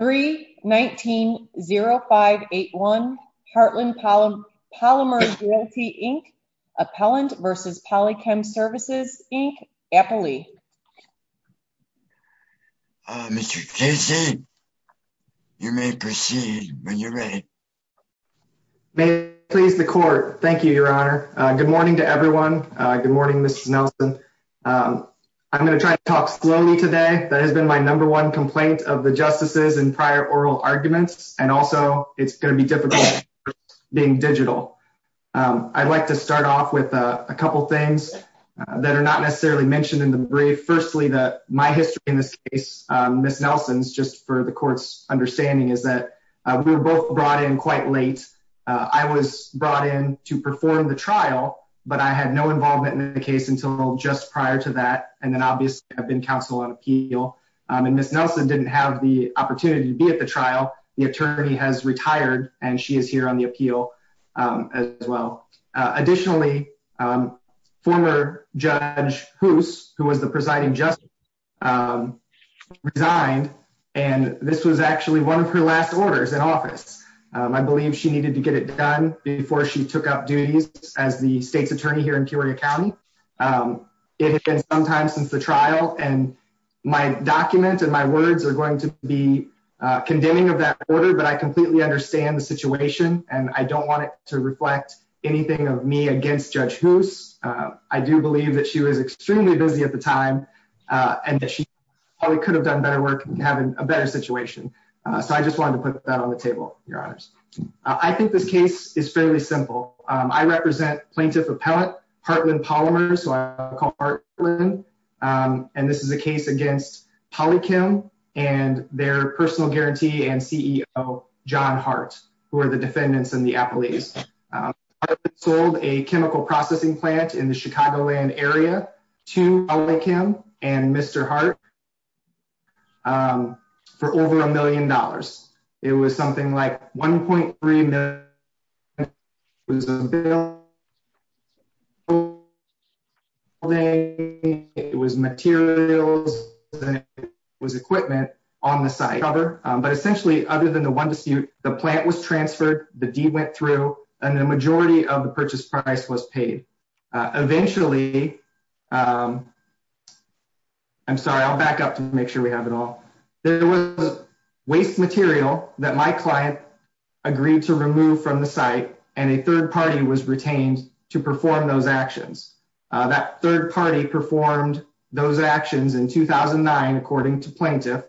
319-0581 Heartland Polymers Realty, Inc. Appellant v. Polychem Services, Inc. Appley. Mr. Casey, you may proceed when you're ready. May it please the court. Thank you, Your Honor. Good morning to everyone. Good morning, Mrs. Nelson. I'm going to try to talk slowly today. That has been my number one complaint of the justices in prior oral arguments, and also it's going to be difficult being digital. I'd like to start off with a couple things that are not necessarily mentioned in the brief. Firstly, my history in this case, Mrs. Nelson's, just for the court's understanding, is that we were both brought in quite late. I was brought in to perform the trial, but I had no involvement in the case until just prior to that, and then obviously I've been counsel on appeal. And Mrs. Nelson didn't have the opportunity to be at the trial. The attorney has retired, and she is here on the appeal as well. Additionally, former Judge Hoos, who was the presiding justice, resigned, and this was actually one of her last orders in office. I believe she needed to get it done before she took up duties as the state's attorney here in Peoria County. It had been some time since the trial, and my document and my words are going to be condemning of that order, but I completely understand the situation, and I don't want it to reflect anything of me against Judge Hoos. I do believe that she was extremely busy at the time, and that she probably could have done better work and have a better situation. So I just wanted to put that on the table, Your Honors. I think this case is fairly simple. I represent Plaintiff Appellant Hartland Polymers, who I call Hartland, and this is a case against Polychem and their personal guarantee and CEO, John Hart, who are the defendants in the appellees. Hartland sold a chemical processing plant in the Chicagoland area to Polychem and Mr. Hart for over a million dollars. It was something like $1.3 million. It was materials, and it was equipment on the site. But essentially, other than the one dispute, the plant was transferred, the deed went through, and the majority of the purchase price was paid. Eventually, I'm sorry, I'll back up to make sure we have it all. There was waste material that my client agreed to remove from the site, and a third party was retained to perform those actions. That third party performed those actions in 2009, according to Plaintiff,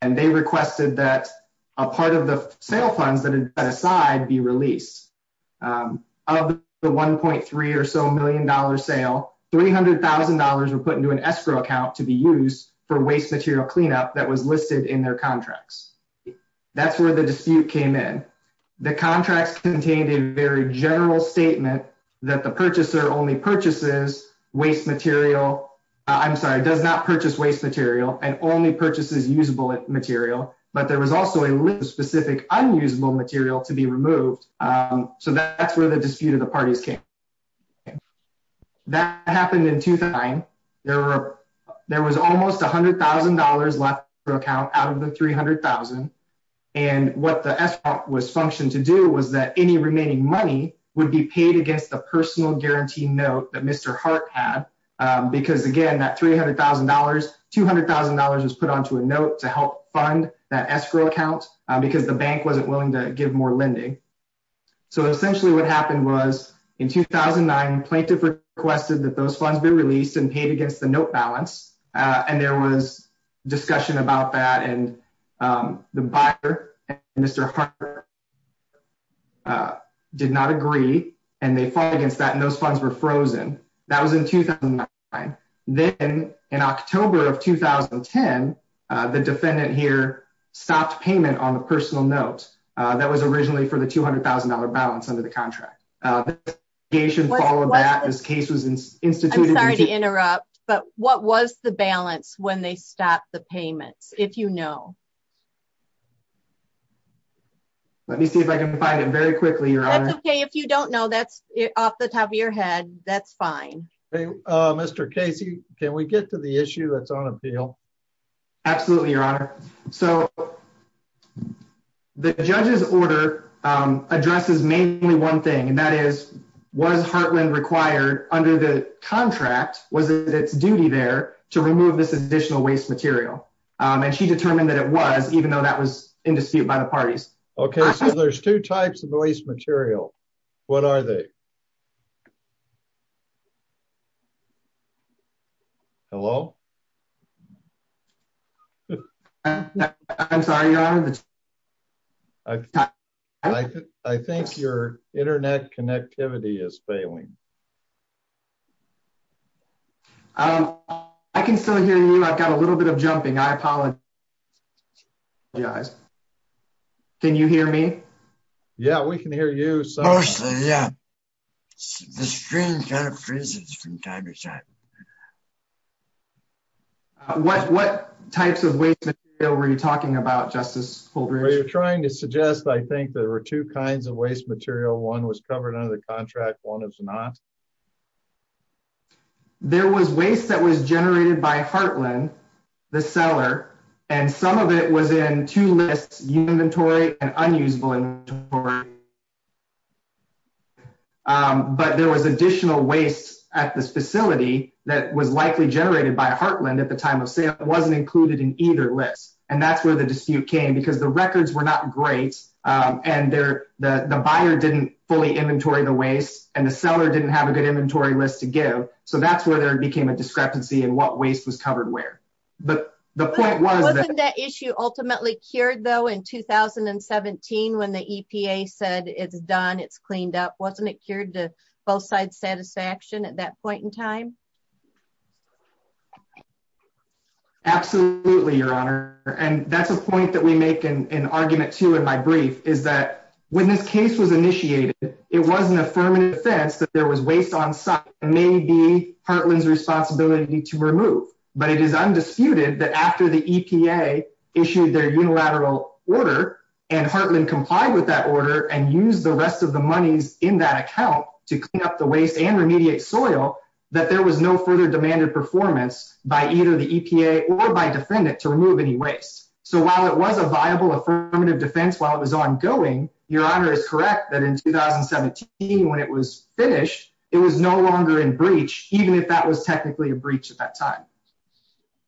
and they requested that a part of the sale funds that had been set aside be released. Of the $1.3 or so million sale, $300,000 were put into an escrow account to be used for waste material cleanup that was listed in their contracts. That's where the dispute came in. The contracts contained a very general statement that the purchaser only purchases waste material, I'm sorry, does not purchase waste material and only purchases usable material, but there was also a specific unusable material to be removed. So that's where the dispute of the parties came. That happened in 2009. There was almost $100,000 left for account out of the 300,000. And what the escrow was functioned to do was that any remaining money would be paid against the personal guarantee note that Mr. Hart had, because again, that $300,000, $200,000 was put onto a note to help fund that escrow account because the bank wasn't willing to give more lending. So essentially what happened was in 2009, Plaintiff requested that those funds be released and paid against the note balance. And there was discussion about that and the buyer and Mr. Hart did not agree and they fought against that and those funds were frozen. That was in 2009. Then in October of 2010, the defendant here stopped payment on the personal note that was originally for the $200,000 balance under the contract. The case was instituted- But what was the balance when they stopped the payments, if you know? Let me see if I can find it very quickly, Your Honor. That's okay. If you don't know, that's off the top of your head. That's fine. Mr. Casey, can we get to the issue that's on appeal? Absolutely, Your Honor. So the judge's order addresses mainly one thing and that is, was Hartland required under the contract, was it its duty there to remove this additional waste material? And she determined that it was, even though that was in dispute by the parties. Okay, so there's two types of waste material. What are they? Hello? I'm sorry, Your Honor. I think your internet connectivity is failing. Um, I can still hear you. I've got a little bit of jumping. I apologize. Can you hear me? Yeah, we can hear you. Yeah, the screen kind of freezes from time to time. What types of waste material were you talking about, Justice Fulbright? You're trying to suggest, I think, there were two kinds of waste material. One was covered under the contract, one was not. Okay. There was waste that was generated by Hartland, the seller, and some of it was in two lists, inventory and unusable inventory. But there was additional waste at this facility that was likely generated by Hartland at the time of sale. It wasn't included in either list. And that's where the dispute came and the buyer didn't fully inventory the waste and the seller didn't have a good inventory list to give. So that's where there became a discrepancy in what waste was covered where. But the point was... Wasn't that issue ultimately cured though in 2017 when the EPA said it's done, it's cleaned up? Wasn't it cured to both sides' satisfaction at that point in time? Absolutely, Your Honor. And that's a point that we make in argument two in my brief is that when this case was initiated, it was an affirmative defense that there was waste on site and maybe Hartland's responsibility to remove. But it is undisputed that after the EPA issued their unilateral order and Hartland complied with that order and used the rest of the monies in that account to clean up the waste and remediate soil that there was no further demanded performance by either the EPA or by defendant to remove any waste. So while it was a viable affirmative defense while it was ongoing, Your Honor is correct that in 2017 when it was finished, it was no longer in breach even if that was technically a breach at that time.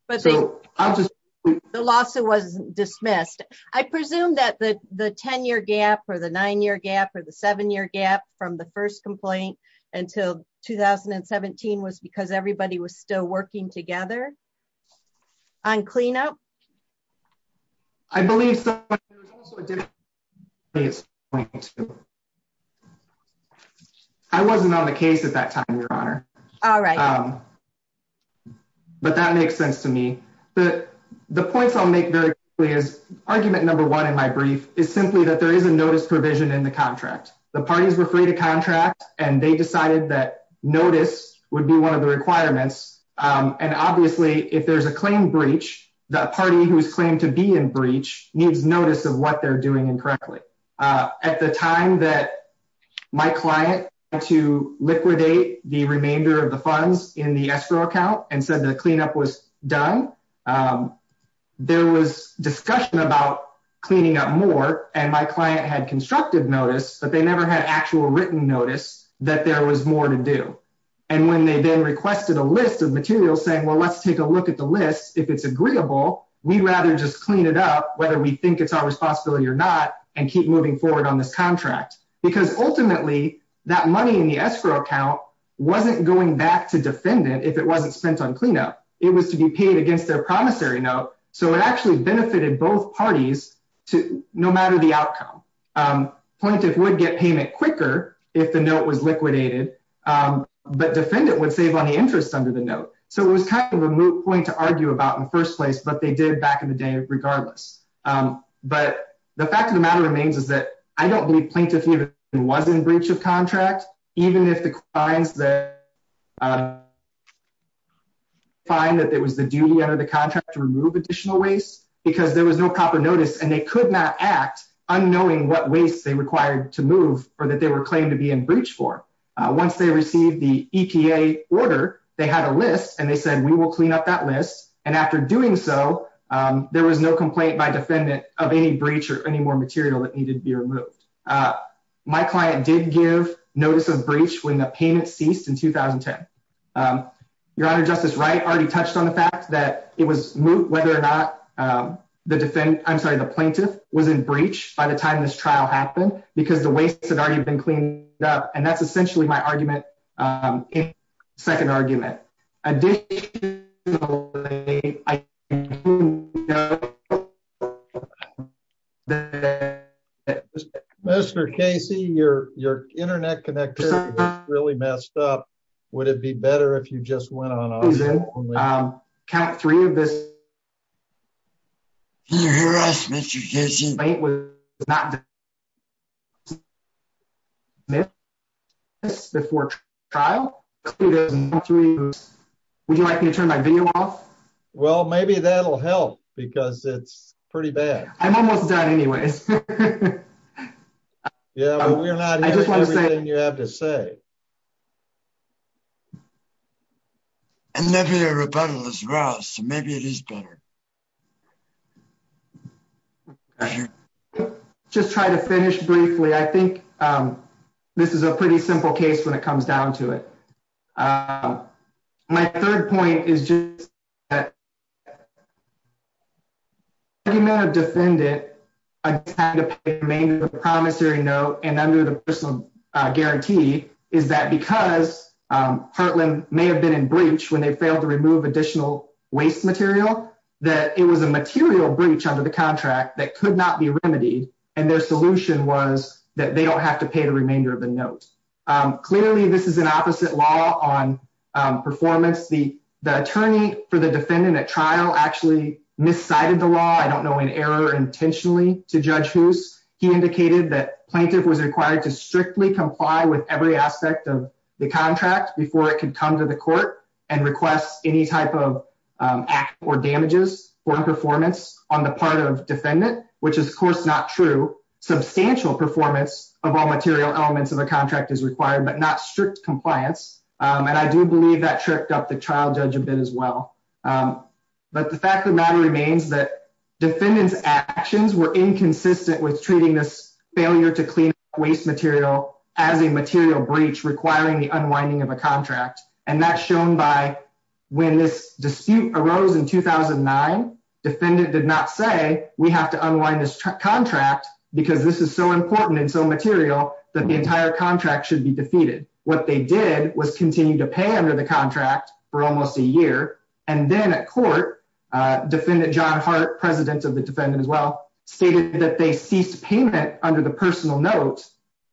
The lawsuit was dismissed. I presume that the 10-year gap or the nine-year gap or the seven-year gap from the first complaint until 2017 was because everybody was still working together on cleanup? I believe so, but there's also a difference between the two. I wasn't on the case at that time, Your Honor. All right. But that makes sense to me. But the points I'll make very quickly is argument number one in my brief is simply that there is a notice provision in the contract. The parties were free to contract and they decided that notice would be one of the requirements. And obviously, if there's a claim breach the party who's claimed to be in breach needs notice of what they're doing incorrectly. At the time that my client had to liquidate the remainder of the funds in the escrow account and said the cleanup was done, there was discussion about cleaning up more and my client had constructive notice but they never had actual written notice that there was more to do. And when they then requested a list of materials saying, well, let's take a look at the list. If it's agreeable, we'd rather just clean it up whether we think it's our responsibility or not and keep moving forward on this contract because ultimately that money in the escrow account wasn't going back to defendant if it wasn't spent on cleanup. It was to be paid against their promissory note. So it actually benefited both parties no matter the outcome. Plaintiff would get payment quicker if the note was liquidated but defendant would save on the interest under the note. So it was kind of a moot point to argue about in first place but they did back in the day regardless. But the fact of the matter remains is that I don't believe plaintiff even was in breach of contract even if the clients that find that it was the duty under the contract to remove additional waste because there was no proper notice and they could not act unknowing what waste they required to move or that they were claimed to be in breach for. Once they received the EPA order, they had a list and they said, we will clean up that list. And after doing so, there was no complaint by defendant of any breach or any more material that needed to be removed. My client did give notice of breach when the payment ceased in 2010. Your Honor, Justice Wright already touched on the fact that it was moot whether or not the defendant, I'm sorry, the plaintiff was in breach by the time this trial happened because the waste had already been cleaned up. And that's essentially my argument, second argument. Additionally, I do know that- Mr. Casey, your internet connection is really messed up. Would it be better if you just went on? Count three of this. Can you hear us, Mr. Casey? The plaintiff was not- Before trial. Would you like me to turn my video off? Well, maybe that'll help because it's pretty bad. I'm almost done anyways. Yeah, but we're not- I just want to say- Everything you have to say. And maybe the rebuttal is wrong, so maybe it is better. I just want to say- Just try to finish briefly. I think this is a pretty simple case when it comes down to it. My third point is just- Any amount of defendant, I'm trying to make a promissory note and under the personal guarantee is that because Heartland may have been in breach when they failed to remove additional waste material, that it was a material breach under the contract that could not be remedied. And their solution was that they don't have to pay the remainder of the note. Clearly, this is an opposite law on performance. The attorney for the defendant at trial actually miscited the law. I don't know in error intentionally to Judge Hoos. He indicated that plaintiff was required to strictly comply with every aspect of the contract before it could come to the court and request any type of act or damages or performance on the part of defendant, which is of course not true. Substantial performance of all material elements of a contract is required, but not strict compliance. And I do believe that tripped up the trial judge a bit as well. But the fact of the matter remains that defendant's actions were inconsistent as a material breach requiring the unwinding of a contract. And that's shown by when this dispute arose in 2009, defendant did not say we have to unwind this contract because this is so important and so material that the entire contract should be defeated. What they did was continue to pay under the contract for almost a year. And then at court, defendant John Hart, president of the defendant as well, stated that they ceased payment under the personal note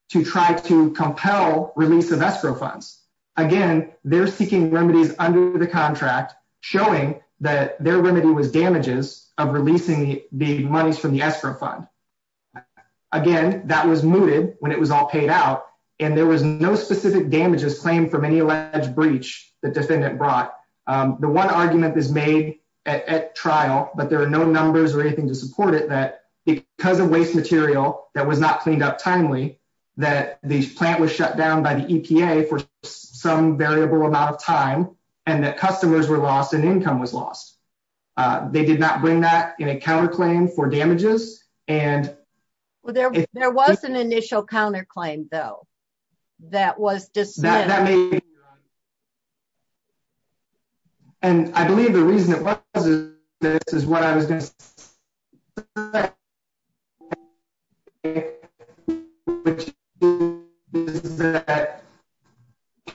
to try to compel release of escrow funds. Again, they're seeking remedies under the contract showing that their remedy was damages of releasing the monies from the escrow fund. Again, that was mooted when it was all paid out and there was no specific damages claimed from any alleged breach that defendant brought. The one argument is made at trial, but there are no numbers or anything to support it that because of waste material that was not cleaned up timely, that the plant was shut down by the EPA for some variable amount of time and that customers were lost and income was lost. They did not bring that in a counterclaim for damages and- Well, there was an initial counterclaim though that was dismissed. And I believe the reason it wasn't, this is what I was gonna say. The fact of the matter is that my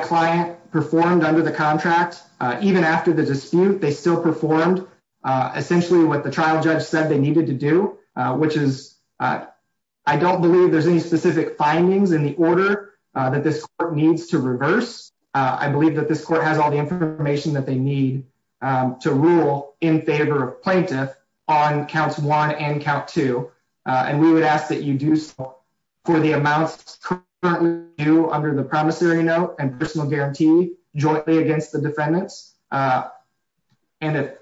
client performed under the contract, even after the dispute, they still performed essentially what the trial judge said they needed to do, which is I don't believe there's any specific findings in the order that this court needs to reverse. I believe that this court has all the information that they need to rule in favor of plaintiff on counts one and count two. And we would ask that you do so for the amounts currently due under the promissory note and personal guarantee jointly against the defendants. And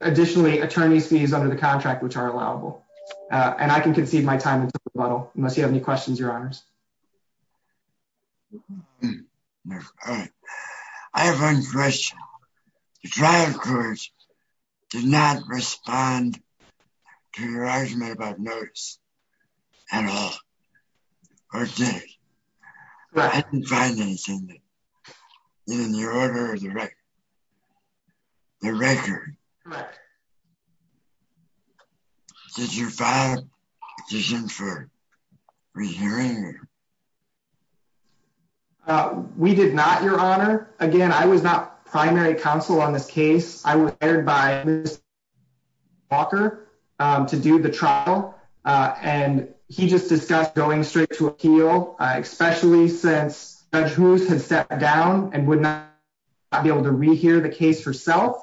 additionally, attorney's fees under the contract, which are allowable. And I can concede my time until rebuttal unless you have any questions, your honors. All right. I have one question. The trial court did not respond to your argument about notice at all, or did it? I didn't find anything in the order of the record. Did you file petition for rehearing? We did not, your honor. Again, I was not primary counsel on this case. I was hired by Mr. Walker to do the trial. And he just discussed going straight to appeal, especially since Judge Hoos had sat down and would not be able to rehear the case herself.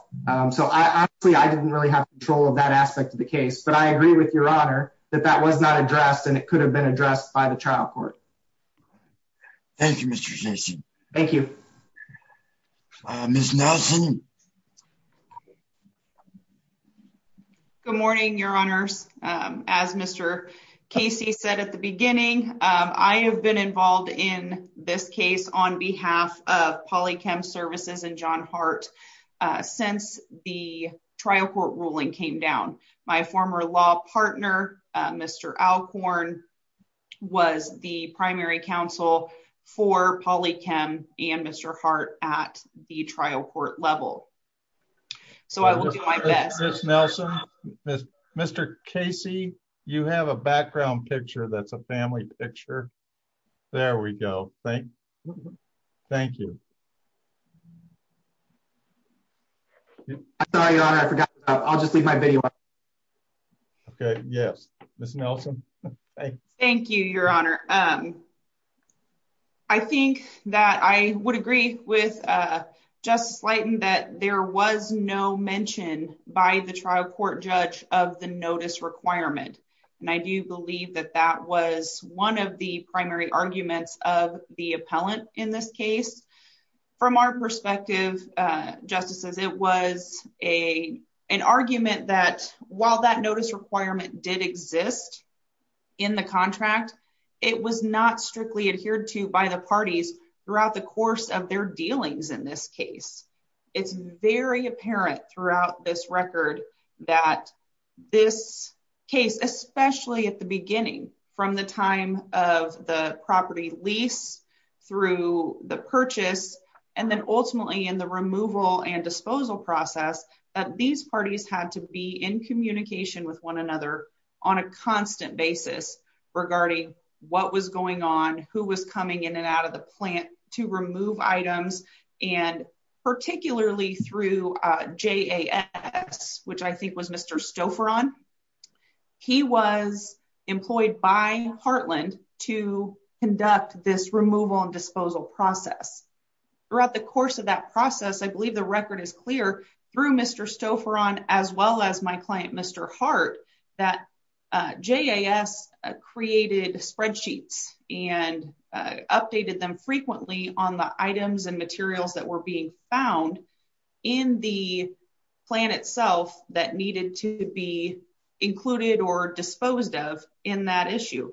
So I honestly, I didn't really have control of that aspect of the case, but I agree with your honor that that was not addressed and it could have been addressed by the trial court. Thank you, Mr. Casey. Thank you. Ms. Nelson. Good morning, your honors. As Mr. Casey said at the beginning, I have been involved in this case on behalf of Polychem Services and John Hart since the trial court ruling came down. My former law partner, Mr. Alcorn, was the primary counsel for Polychem and Mr. Hart at the trial court level. So I will do my best. Ms. Nelson, Mr. Casey, you have a background picture that's a family picture. There we go. Thank you. I'm sorry, your honor. I forgot. I'll just leave my video. Okay. Yes. Ms. Nelson. Thank you, your honor. I think that I would agree with Justice Slyton that there was no mention by the trial court judge of the notice requirement. And I do believe that that was one of the primary arguments of the appellant in this case. From our perspective, justices, it was an argument that while that notice requirement did exist in the contract, it was not strictly adhered to by the parties throughout the course of their dealings in this case. It's very apparent throughout this record that this case, especially at the beginning, from the time of the property lease through the purchase, and then ultimately in the removal and disposal process, that these parties had to be in communication with one another on a constant basis regarding what was going on, who was coming in and out of the plant to remove items. And particularly through JAS, which I think was Mr. Stouffer on, he was employed by Heartland to conduct this removal and disposal process. Throughout the course of that process, I believe the record is clear through Mr. Stouffer on, as well as my client, Mr. Heart, that JAS created spreadsheets and updated them frequently on the items and materials that were being found in the plan itself that needed to be included or disposed of in that issue.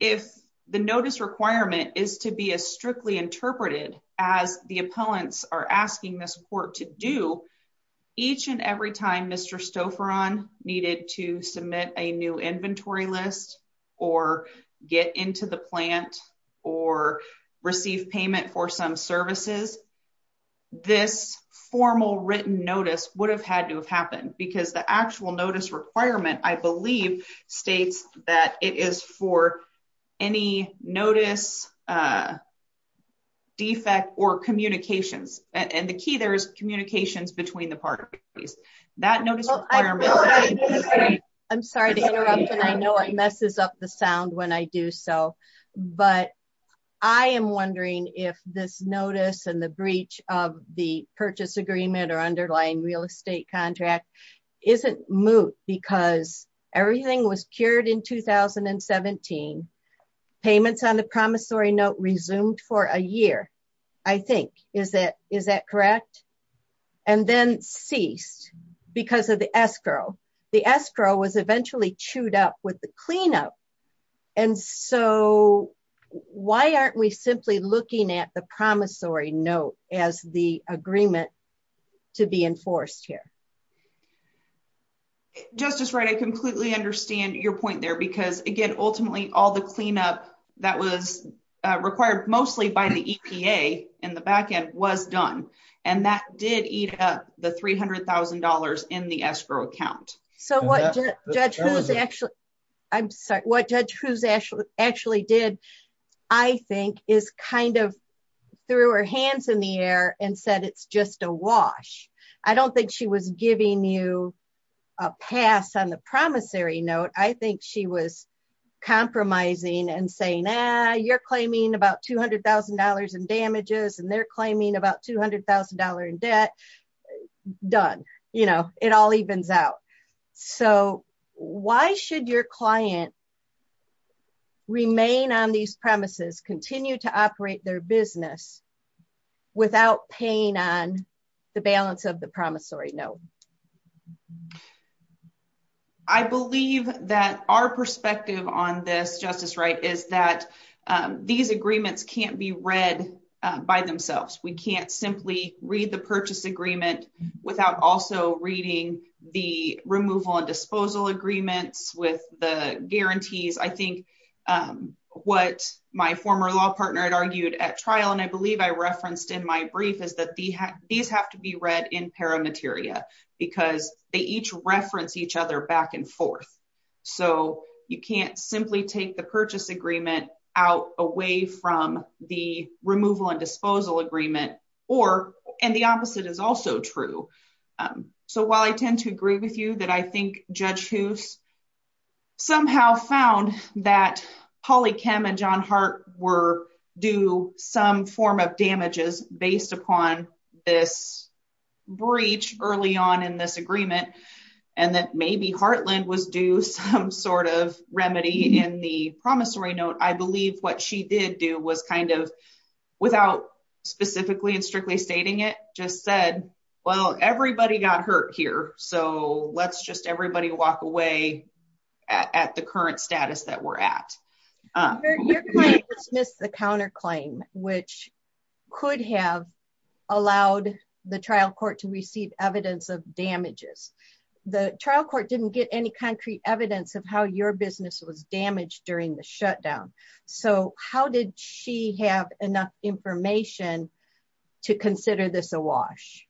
If the notice requirement is to be as strictly interpreted as the appellants are asking this court to do, each and every time Mr. Stouffer on needed to submit a new inventory list or get into the plant or receive payment for some services, this formal written notice would have had to have happened because the actual notice requirement, I believe states that it is for any notice, defect or communications. And the key there is communications between the parties. That notice requirement- I'm sorry to interrupt. And I know it messes up the sound when I do so, but I am wondering if this notice and the breach of the purchase agreement or underlying real estate contract isn't moot because everything was cured in 2017. Payments on the promissory note resumed for a year, I think, is that correct? And then ceased because of the escrow. The escrow was eventually chewed up with the cleanup. And so why aren't we simply looking at the promissory note as the agreement to be enforced here? Justice Wright, I completely understand your point there because again, ultimately all the cleanup that was required mostly by the EPA and the backend was done. And that did eat up the $300,000 in the escrow account. So what Judge Hughes actually- I'm sorry. What Judge Hughes actually did, I think, is kind of threw her hands in the air and said, it's just a wash. I don't think she was giving you a pass on the promissory note. I think she was compromising and saying, ah, you're claiming about $200,000 in damages and they're claiming about $200,000 in debt. Done. You know, it all evens out. So why should your client remain on these premises, continue to operate their business without paying on the balance of the promissory note? I believe that our perspective on this, Justice Wright, is that these agreements can't be read by themselves. We can't simply read the purchase agreement without also reading the removal and disposal agreements with the guarantees. I think what my former law partner had argued at trial, and I believe I referenced in my brief, is that these have to be read in paramateria because they each reference each other back and forth. So you can't simply take the purchase agreement out away from the removal and disposal agreement or, and the opposite is also true. So while I tend to agree with you that I think Judge Hoos somehow found that Holly Kem and John Hart were due some form of damages based upon this breach early on in this agreement and that maybe Hartland was due some sort of remedy in the promissory note, I believe what she did do was kind of, without specifically and strictly stating it, just said, well, everybody got hurt here. So let's just everybody walk away at the current status that we're at. Your client dismissed the counterclaim which could have allowed the trial court to receive evidence of damages. The trial court didn't get any concrete evidence of how your business was damaged during the shutdown. So how did she have enough information to consider this a wash?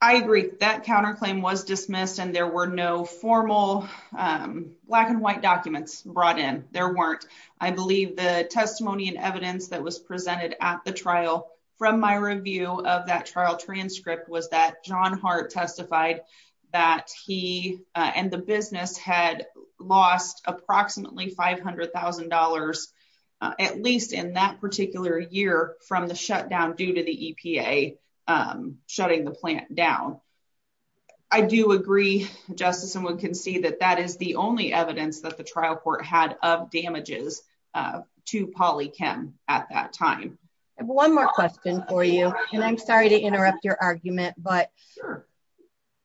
I agree. That counterclaim was dismissed and there were no formal black and white documents brought in, there weren't. I believe the testimony and evidence that was presented at the trial from my review of that trial transcript was that John Hart testified that he and the business had lost approximately $500,000 at least in that particular year from the shutdown due to the EPA shutting the plant down. I do agree, Justice and we can see that that is the only evidence that the trial court had of damages to Polly Kem at that time. I have one more question for you and I'm sorry to interrupt your argument but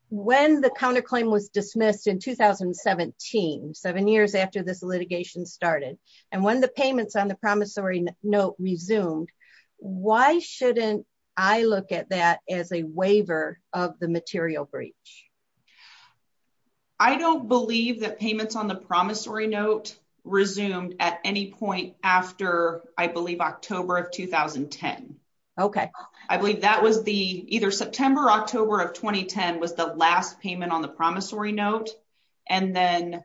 when the counterclaim was dismissed in 2017 seven years after this litigation started and when the payments on the promissory note resumed why shouldn't I look at that as a waiver of the material breach? I don't believe that payments on the promissory note resumed at any point after I believe October of 2010. Okay. I believe that was the either September, October of 2010 was the last payment on the promissory note and then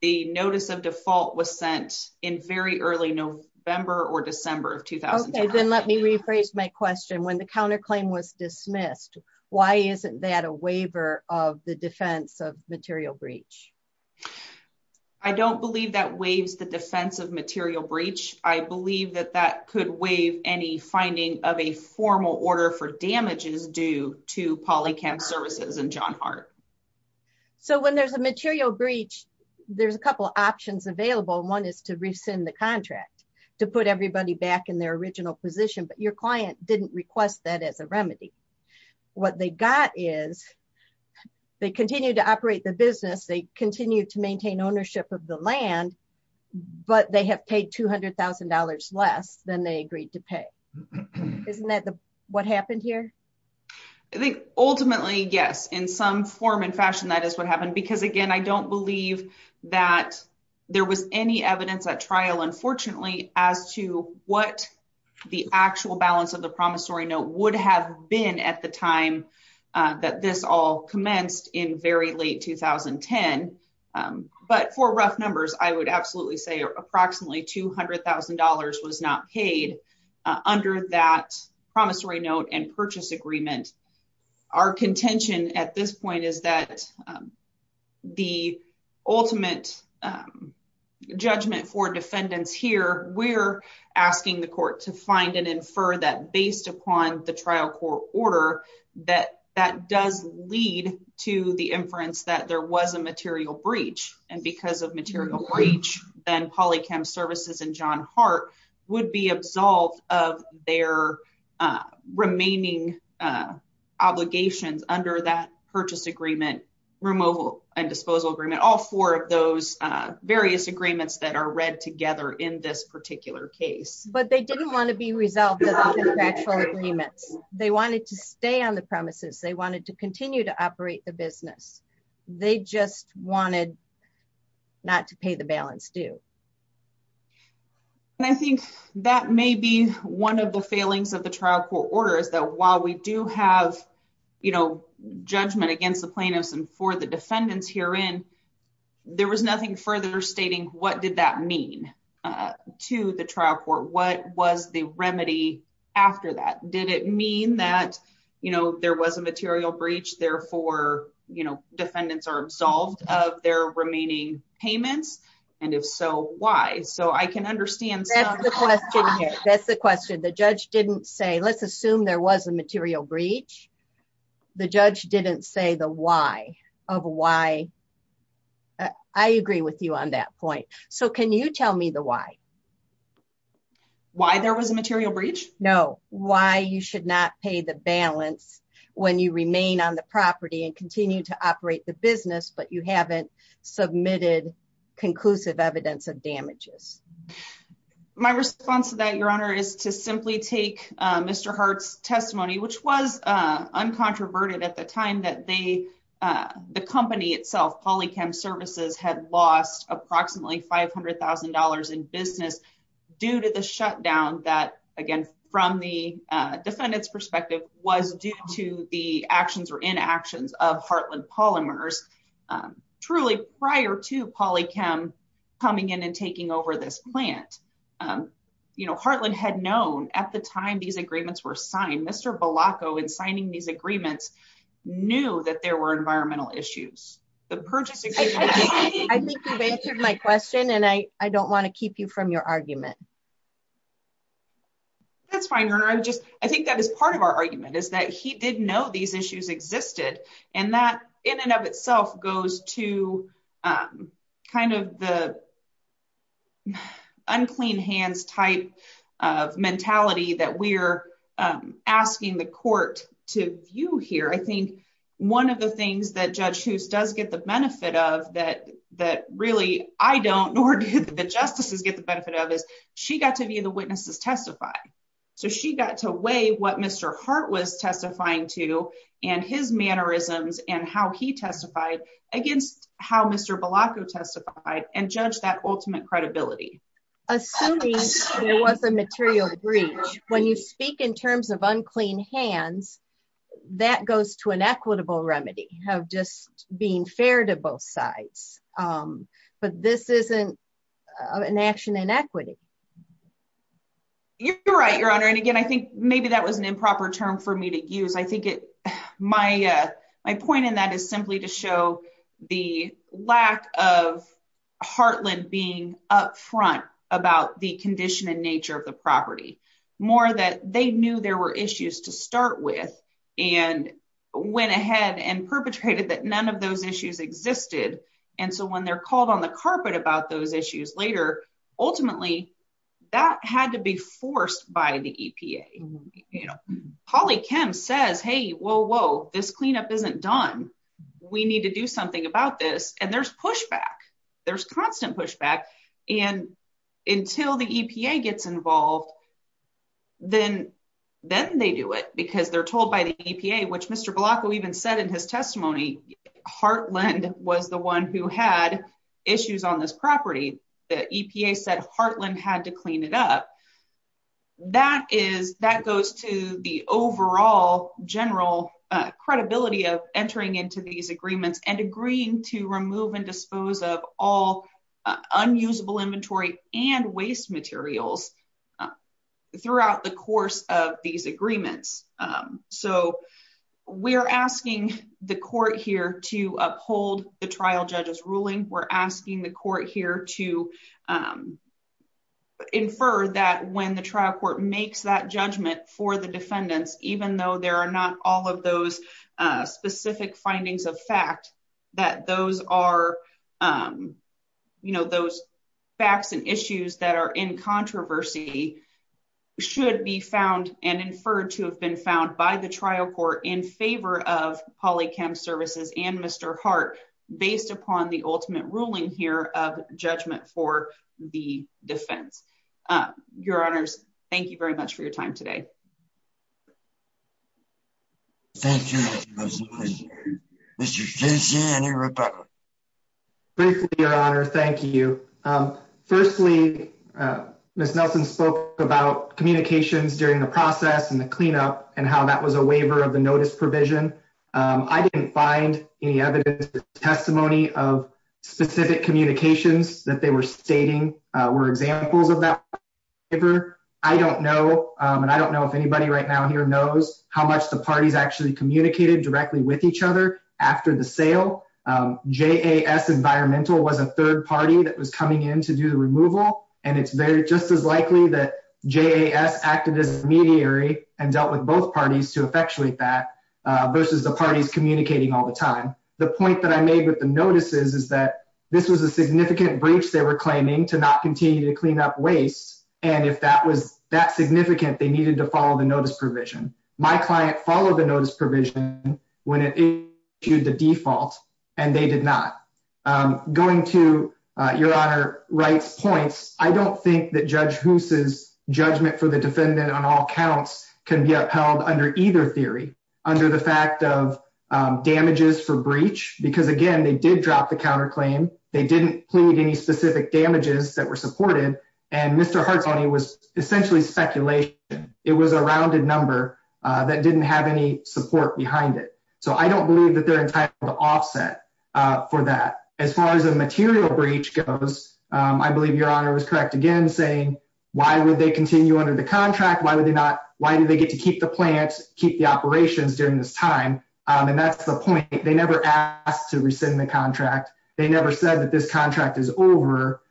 the notice of default was sent in very early November or December of 2010. Okay, then let me rephrase my question. When the counterclaim was dismissed why isn't that a waiver of the defense of material breach? I don't believe that waives the defense of material breach. I believe that that could waive any finding of a formal order for damages due to Polly Kem services and John Hart. So when there's a material breach there's a couple options available. One is to rescind the contract to put everybody back in their original position but your client didn't request that as a remedy. What they got is they continue to operate the business. They continue to maintain ownership of the land but they have paid $200,000 less than they agreed to pay. Isn't that what happened here? I think ultimately, yes, in some form and fashion that is what happened because again, I don't believe that there was any evidence at trial unfortunately as to what the actual balance of the promissory note would have been at the time that this all commenced in very late 2010. But for rough numbers, I would absolutely say approximately $200,000 was not paid under that promissory note and purchase agreement. Our contention at this point is that the ultimate judgment for defendants here we're asking the court to find and infer that based upon the trial court order that that does lead to the inference that there was a material breach and because of material breach then Polychem Services and John Hart would be absolved of their remaining obligations under that purchase agreement, removal and disposal agreement, all four of those various agreements that are read together in this particular case. But they didn't wanna be resolved without the contractual agreements. They wanted to stay on the premises. They wanted to continue to operate the business. They just wanted not to pay the balance due. And I think that may be one of the failings of the trial court orders that while we do have judgment against the plaintiffs and for the defendants herein, there was nothing further stating what did that mean to the trial court? What was the remedy after that? Did it mean that there was a material breach therefore defendants are absolved of their remaining payments? And if so, why? So I can understand. That's the question. The judge didn't say, let's assume there was a material breach. The judge didn't say the why of why. I agree with you on that point. So can you tell me the why? Why there was a material breach? No. Why you should not pay the balance when you remain on the property and continue to operate the business, but you haven't submitted conclusive evidence of damages? My response to that, Your Honor, is to simply take Mr. Hart's testimony, which was uncontroverted at the time that the company itself, Polychem Services, had lost approximately $500,000 in business due to the shutdown that, again, from the defendant's perspective, was due to the actions or inactions of Heartland Polymers, truly prior to Polychem coming in and taking over this plant. You know, Heartland had known at the time these agreements were signed, Mr. Bilacco, in signing these agreements, knew that there were environmental issues. The purchase agreement- I think you've answered my question and I don't want to keep you from your argument. That's fine, Your Honor. I think that is part of our argument, is that he did know these issues existed and that in and of itself goes to kind of the unclean hands type of mentality that we're asking the court to view here. I think one of the things that Judge Hoos does get the benefit of that really I don't, nor do the justices get the benefit of, is she got to view the witnesses testify. So she got to weigh what Mr. Heart was testifying to and his mannerisms and how he testified against how Mr. Bilacco testified and judge that ultimate credibility. Assuming there was a material breach, when you speak in terms of unclean hands, that goes to an equitable remedy of just being fair to both sides. But this isn't an action inequity. You're right, Your Honor. And again, I think maybe that was an improper term for me to use. I think my point in that is simply to show the lack of Heartland being upfront about the condition and nature of the property. More that they knew there were issues to start with and went ahead and perpetrated that none of those issues existed. And so when they're called on the carpet about those issues later, ultimately that had to be forced by the EPA. Holly Kim says, hey, whoa, whoa, this cleanup isn't done. We need to do something about this. And there's pushback. There's constant pushback. And until the EPA gets involved, then they do it because they're told by the EPA, which Mr. Blanco even said in his testimony, Heartland was the one who had issues on this property. The EPA said Heartland had to clean it up. That goes to the overall general credibility of entering into these agreements and agreeing to remove and dispose of all unusable inventory and waste materials throughout the course of these agreements. So we're asking the court here to uphold the trial judge's ruling. We're asking the court here to infer that when the trial court makes that judgment for the defendants, even though there are not all of those specific findings of fact, that those are those facts and issues that are in controversy should be found and inferred to have been found by the trial court in favor of Polychem Services and Mr. Heart based upon the ultimate ruling here of judgment for the defense. Your honors, thank you very much for your time today. Thank you, Ms. Nelson. Mr. Jensen and your rebuttal. Briefly, your honor. Thank you. Firstly, Ms. Nelson spoke about communications during the process and the cleanup and how that was a waiver of the notice provision. I didn't find any evidence or testimony of specific communications that they were stating were examples of that waiver. I don't know, and I don't know if anybody right now here knows how much the parties actually communicated directly with each other after the sale. JAS Environmental was a third party that was coming in to do the removal. And it's very just as likely that JAS acted as mediary and dealt with both parties to effectuate that versus the parties communicating all the time. The point that I made with the notices is that this was a significant breach they were claiming to not continue to clean up waste. And if that was that significant, they needed to follow the notice provision. My client followed the notice provision when it issued the default and they did not. Going to your honor Wright's points, I don't think that Judge Hoos's judgment for the defendant on all counts can be upheld under either theory under the fact of damages for breach. Because again, they did drop the counterclaim. They didn't plead any specific damages that were supported. And Mr. Hartzony was essentially speculation. It was a rounded number that didn't have any support behind it. So I don't believe that they're entitled to offset for that. As far as the material breach goes, I believe your honor was correct again, saying why would they continue under the contract? Why would they not? Why do they get to keep the plant, keep the operations during this time? And that's the point. They never asked to rescind the contract. They never said that this contract is over.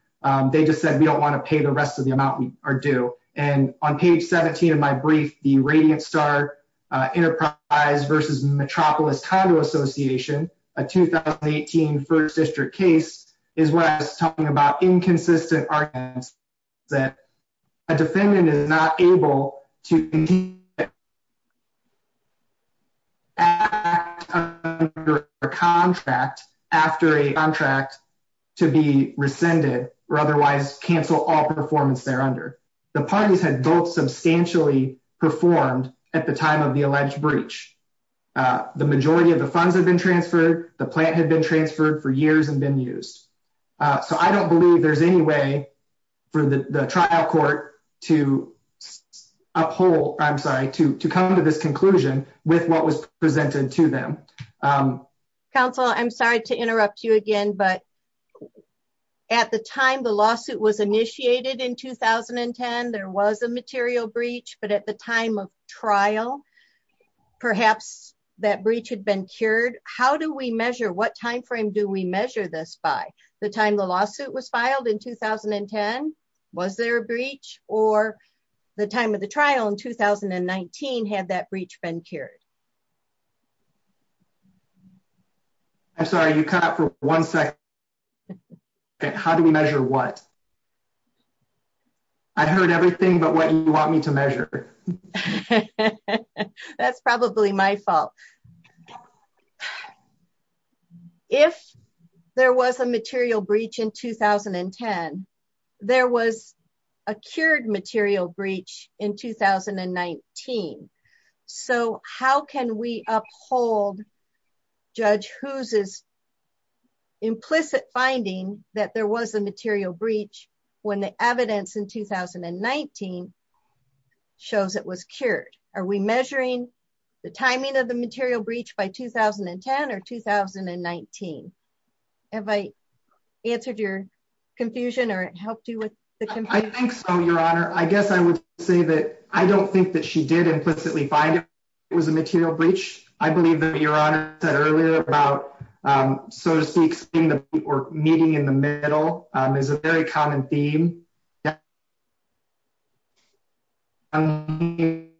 They just said, we don't wanna pay the rest of the amount we are due. And on page 17 of my brief, the Radiant Star Enterprise versus Metropolis Condo Association, a 2018 first district case is where I was talking about inconsistent arguments that a defendant is not able to act under a contract after a contract to be rescinded or otherwise cancel all performance there under. The parties had both substantially performed at the time of the alleged breach. The majority of the funds had been transferred. The plant had been transferred for years and been used. So I don't believe there's any way for the trial court to uphold, I'm sorry, to come to this conclusion with what was presented to them. Council, I'm sorry to interrupt you again, but at the time the lawsuit was initiated in 2010, there was a material breach, but at the time of trial, perhaps that breach had been cured. How do we measure, what timeframe do we measure this by? The time the lawsuit was filed in 2010, was there a breach or the time of the trial in 2019 had that breach been cured? I'm sorry, you cut for one second. How do we measure what? I heard everything, but what you want me to measure. That's probably my fault. If there was a material breach in 2010, there was a cured material breach in 2019. So how can we uphold Judge Hughes's implicit finding that there was a material breach Are we measuring the timing of the material breach by 2010 or 2019? Have I answered your confusion or helped you with the confusion? I think so, your honor. I guess I would say that I don't think that she did implicitly find it was a material breach. I believe that your honor said earlier about, so to speak, seeing the people meeting in the middle is a very common theme. And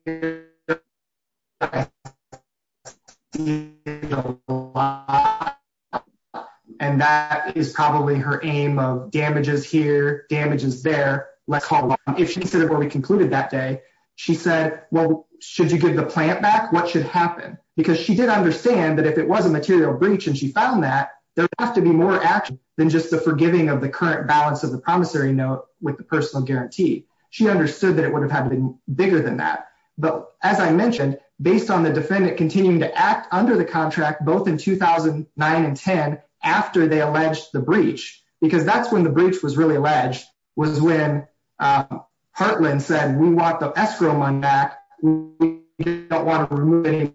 that is probably her aim of damages here, damages there, let's hold on. If she considered what we concluded that day, she said, well, should you give the plant back? What should happen? Because she did understand that if it was a material breach and she found that, there would have to be more action than just the forgiving of the current balance of the promissory note with the personal guarantee. She understood that it would have happened bigger than that. But as I mentioned, based on the defendant continuing to act under the contract, both in 2009 and 10, after they alleged the breach, because that's when the breach was really alleged, was when Hartland said, we want the escrow money back. We don't want to remove any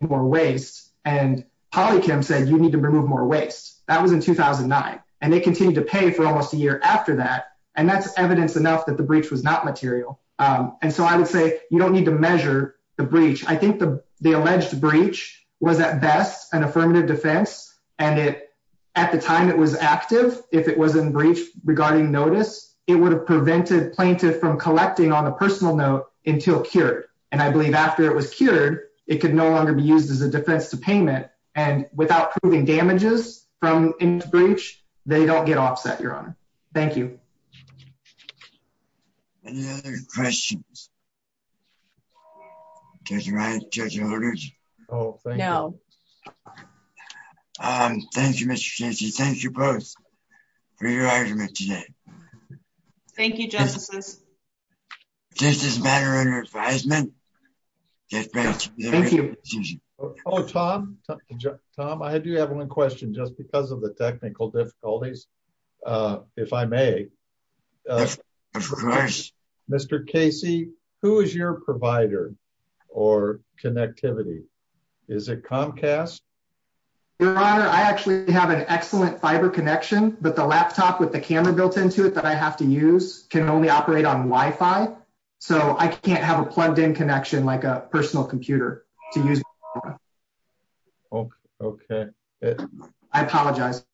more waste. And Holly Kim said, you need to remove more waste. That was in 2009. And they continued to pay for almost a year after that. And that's evidence enough that the breach was not material. And so I would say, you don't need to measure the breach. I think the alleged breach was at best an affirmative defense. And at the time it was active, if it was in breach regarding notice, it would have prevented plaintiff from collecting on a personal note until cured. And I believe after it was cured, it could no longer be used as a defense to payment. And without proving damages from breach, they don't get offset, Your Honor. Thank you. Any other questions? Judge Ryan, Judge Holders? Oh, thank you. Thank you, Mr. Chancy. Thank you both for your argument today. Thank you, Justices. Just as a matter of advisement. Thank you. Oh, Tom. Tom, I do have one question just because of the technical difficulties. If I may. Mr. Casey, who is your provider or connectivity? Is it Comcast? Your Honor, I actually have an excellent fiber connection, but the laptop with the camera built into it that I have to use can only operate on Wi-Fi. So I can't have a plugged in connection like a personal computer to use. Okay. I apologize.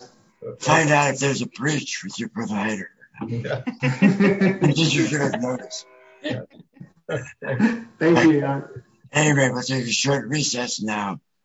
Find out if there's a breach with your provider. Thank you, Your Honor. Anyway, we'll take a short recess now.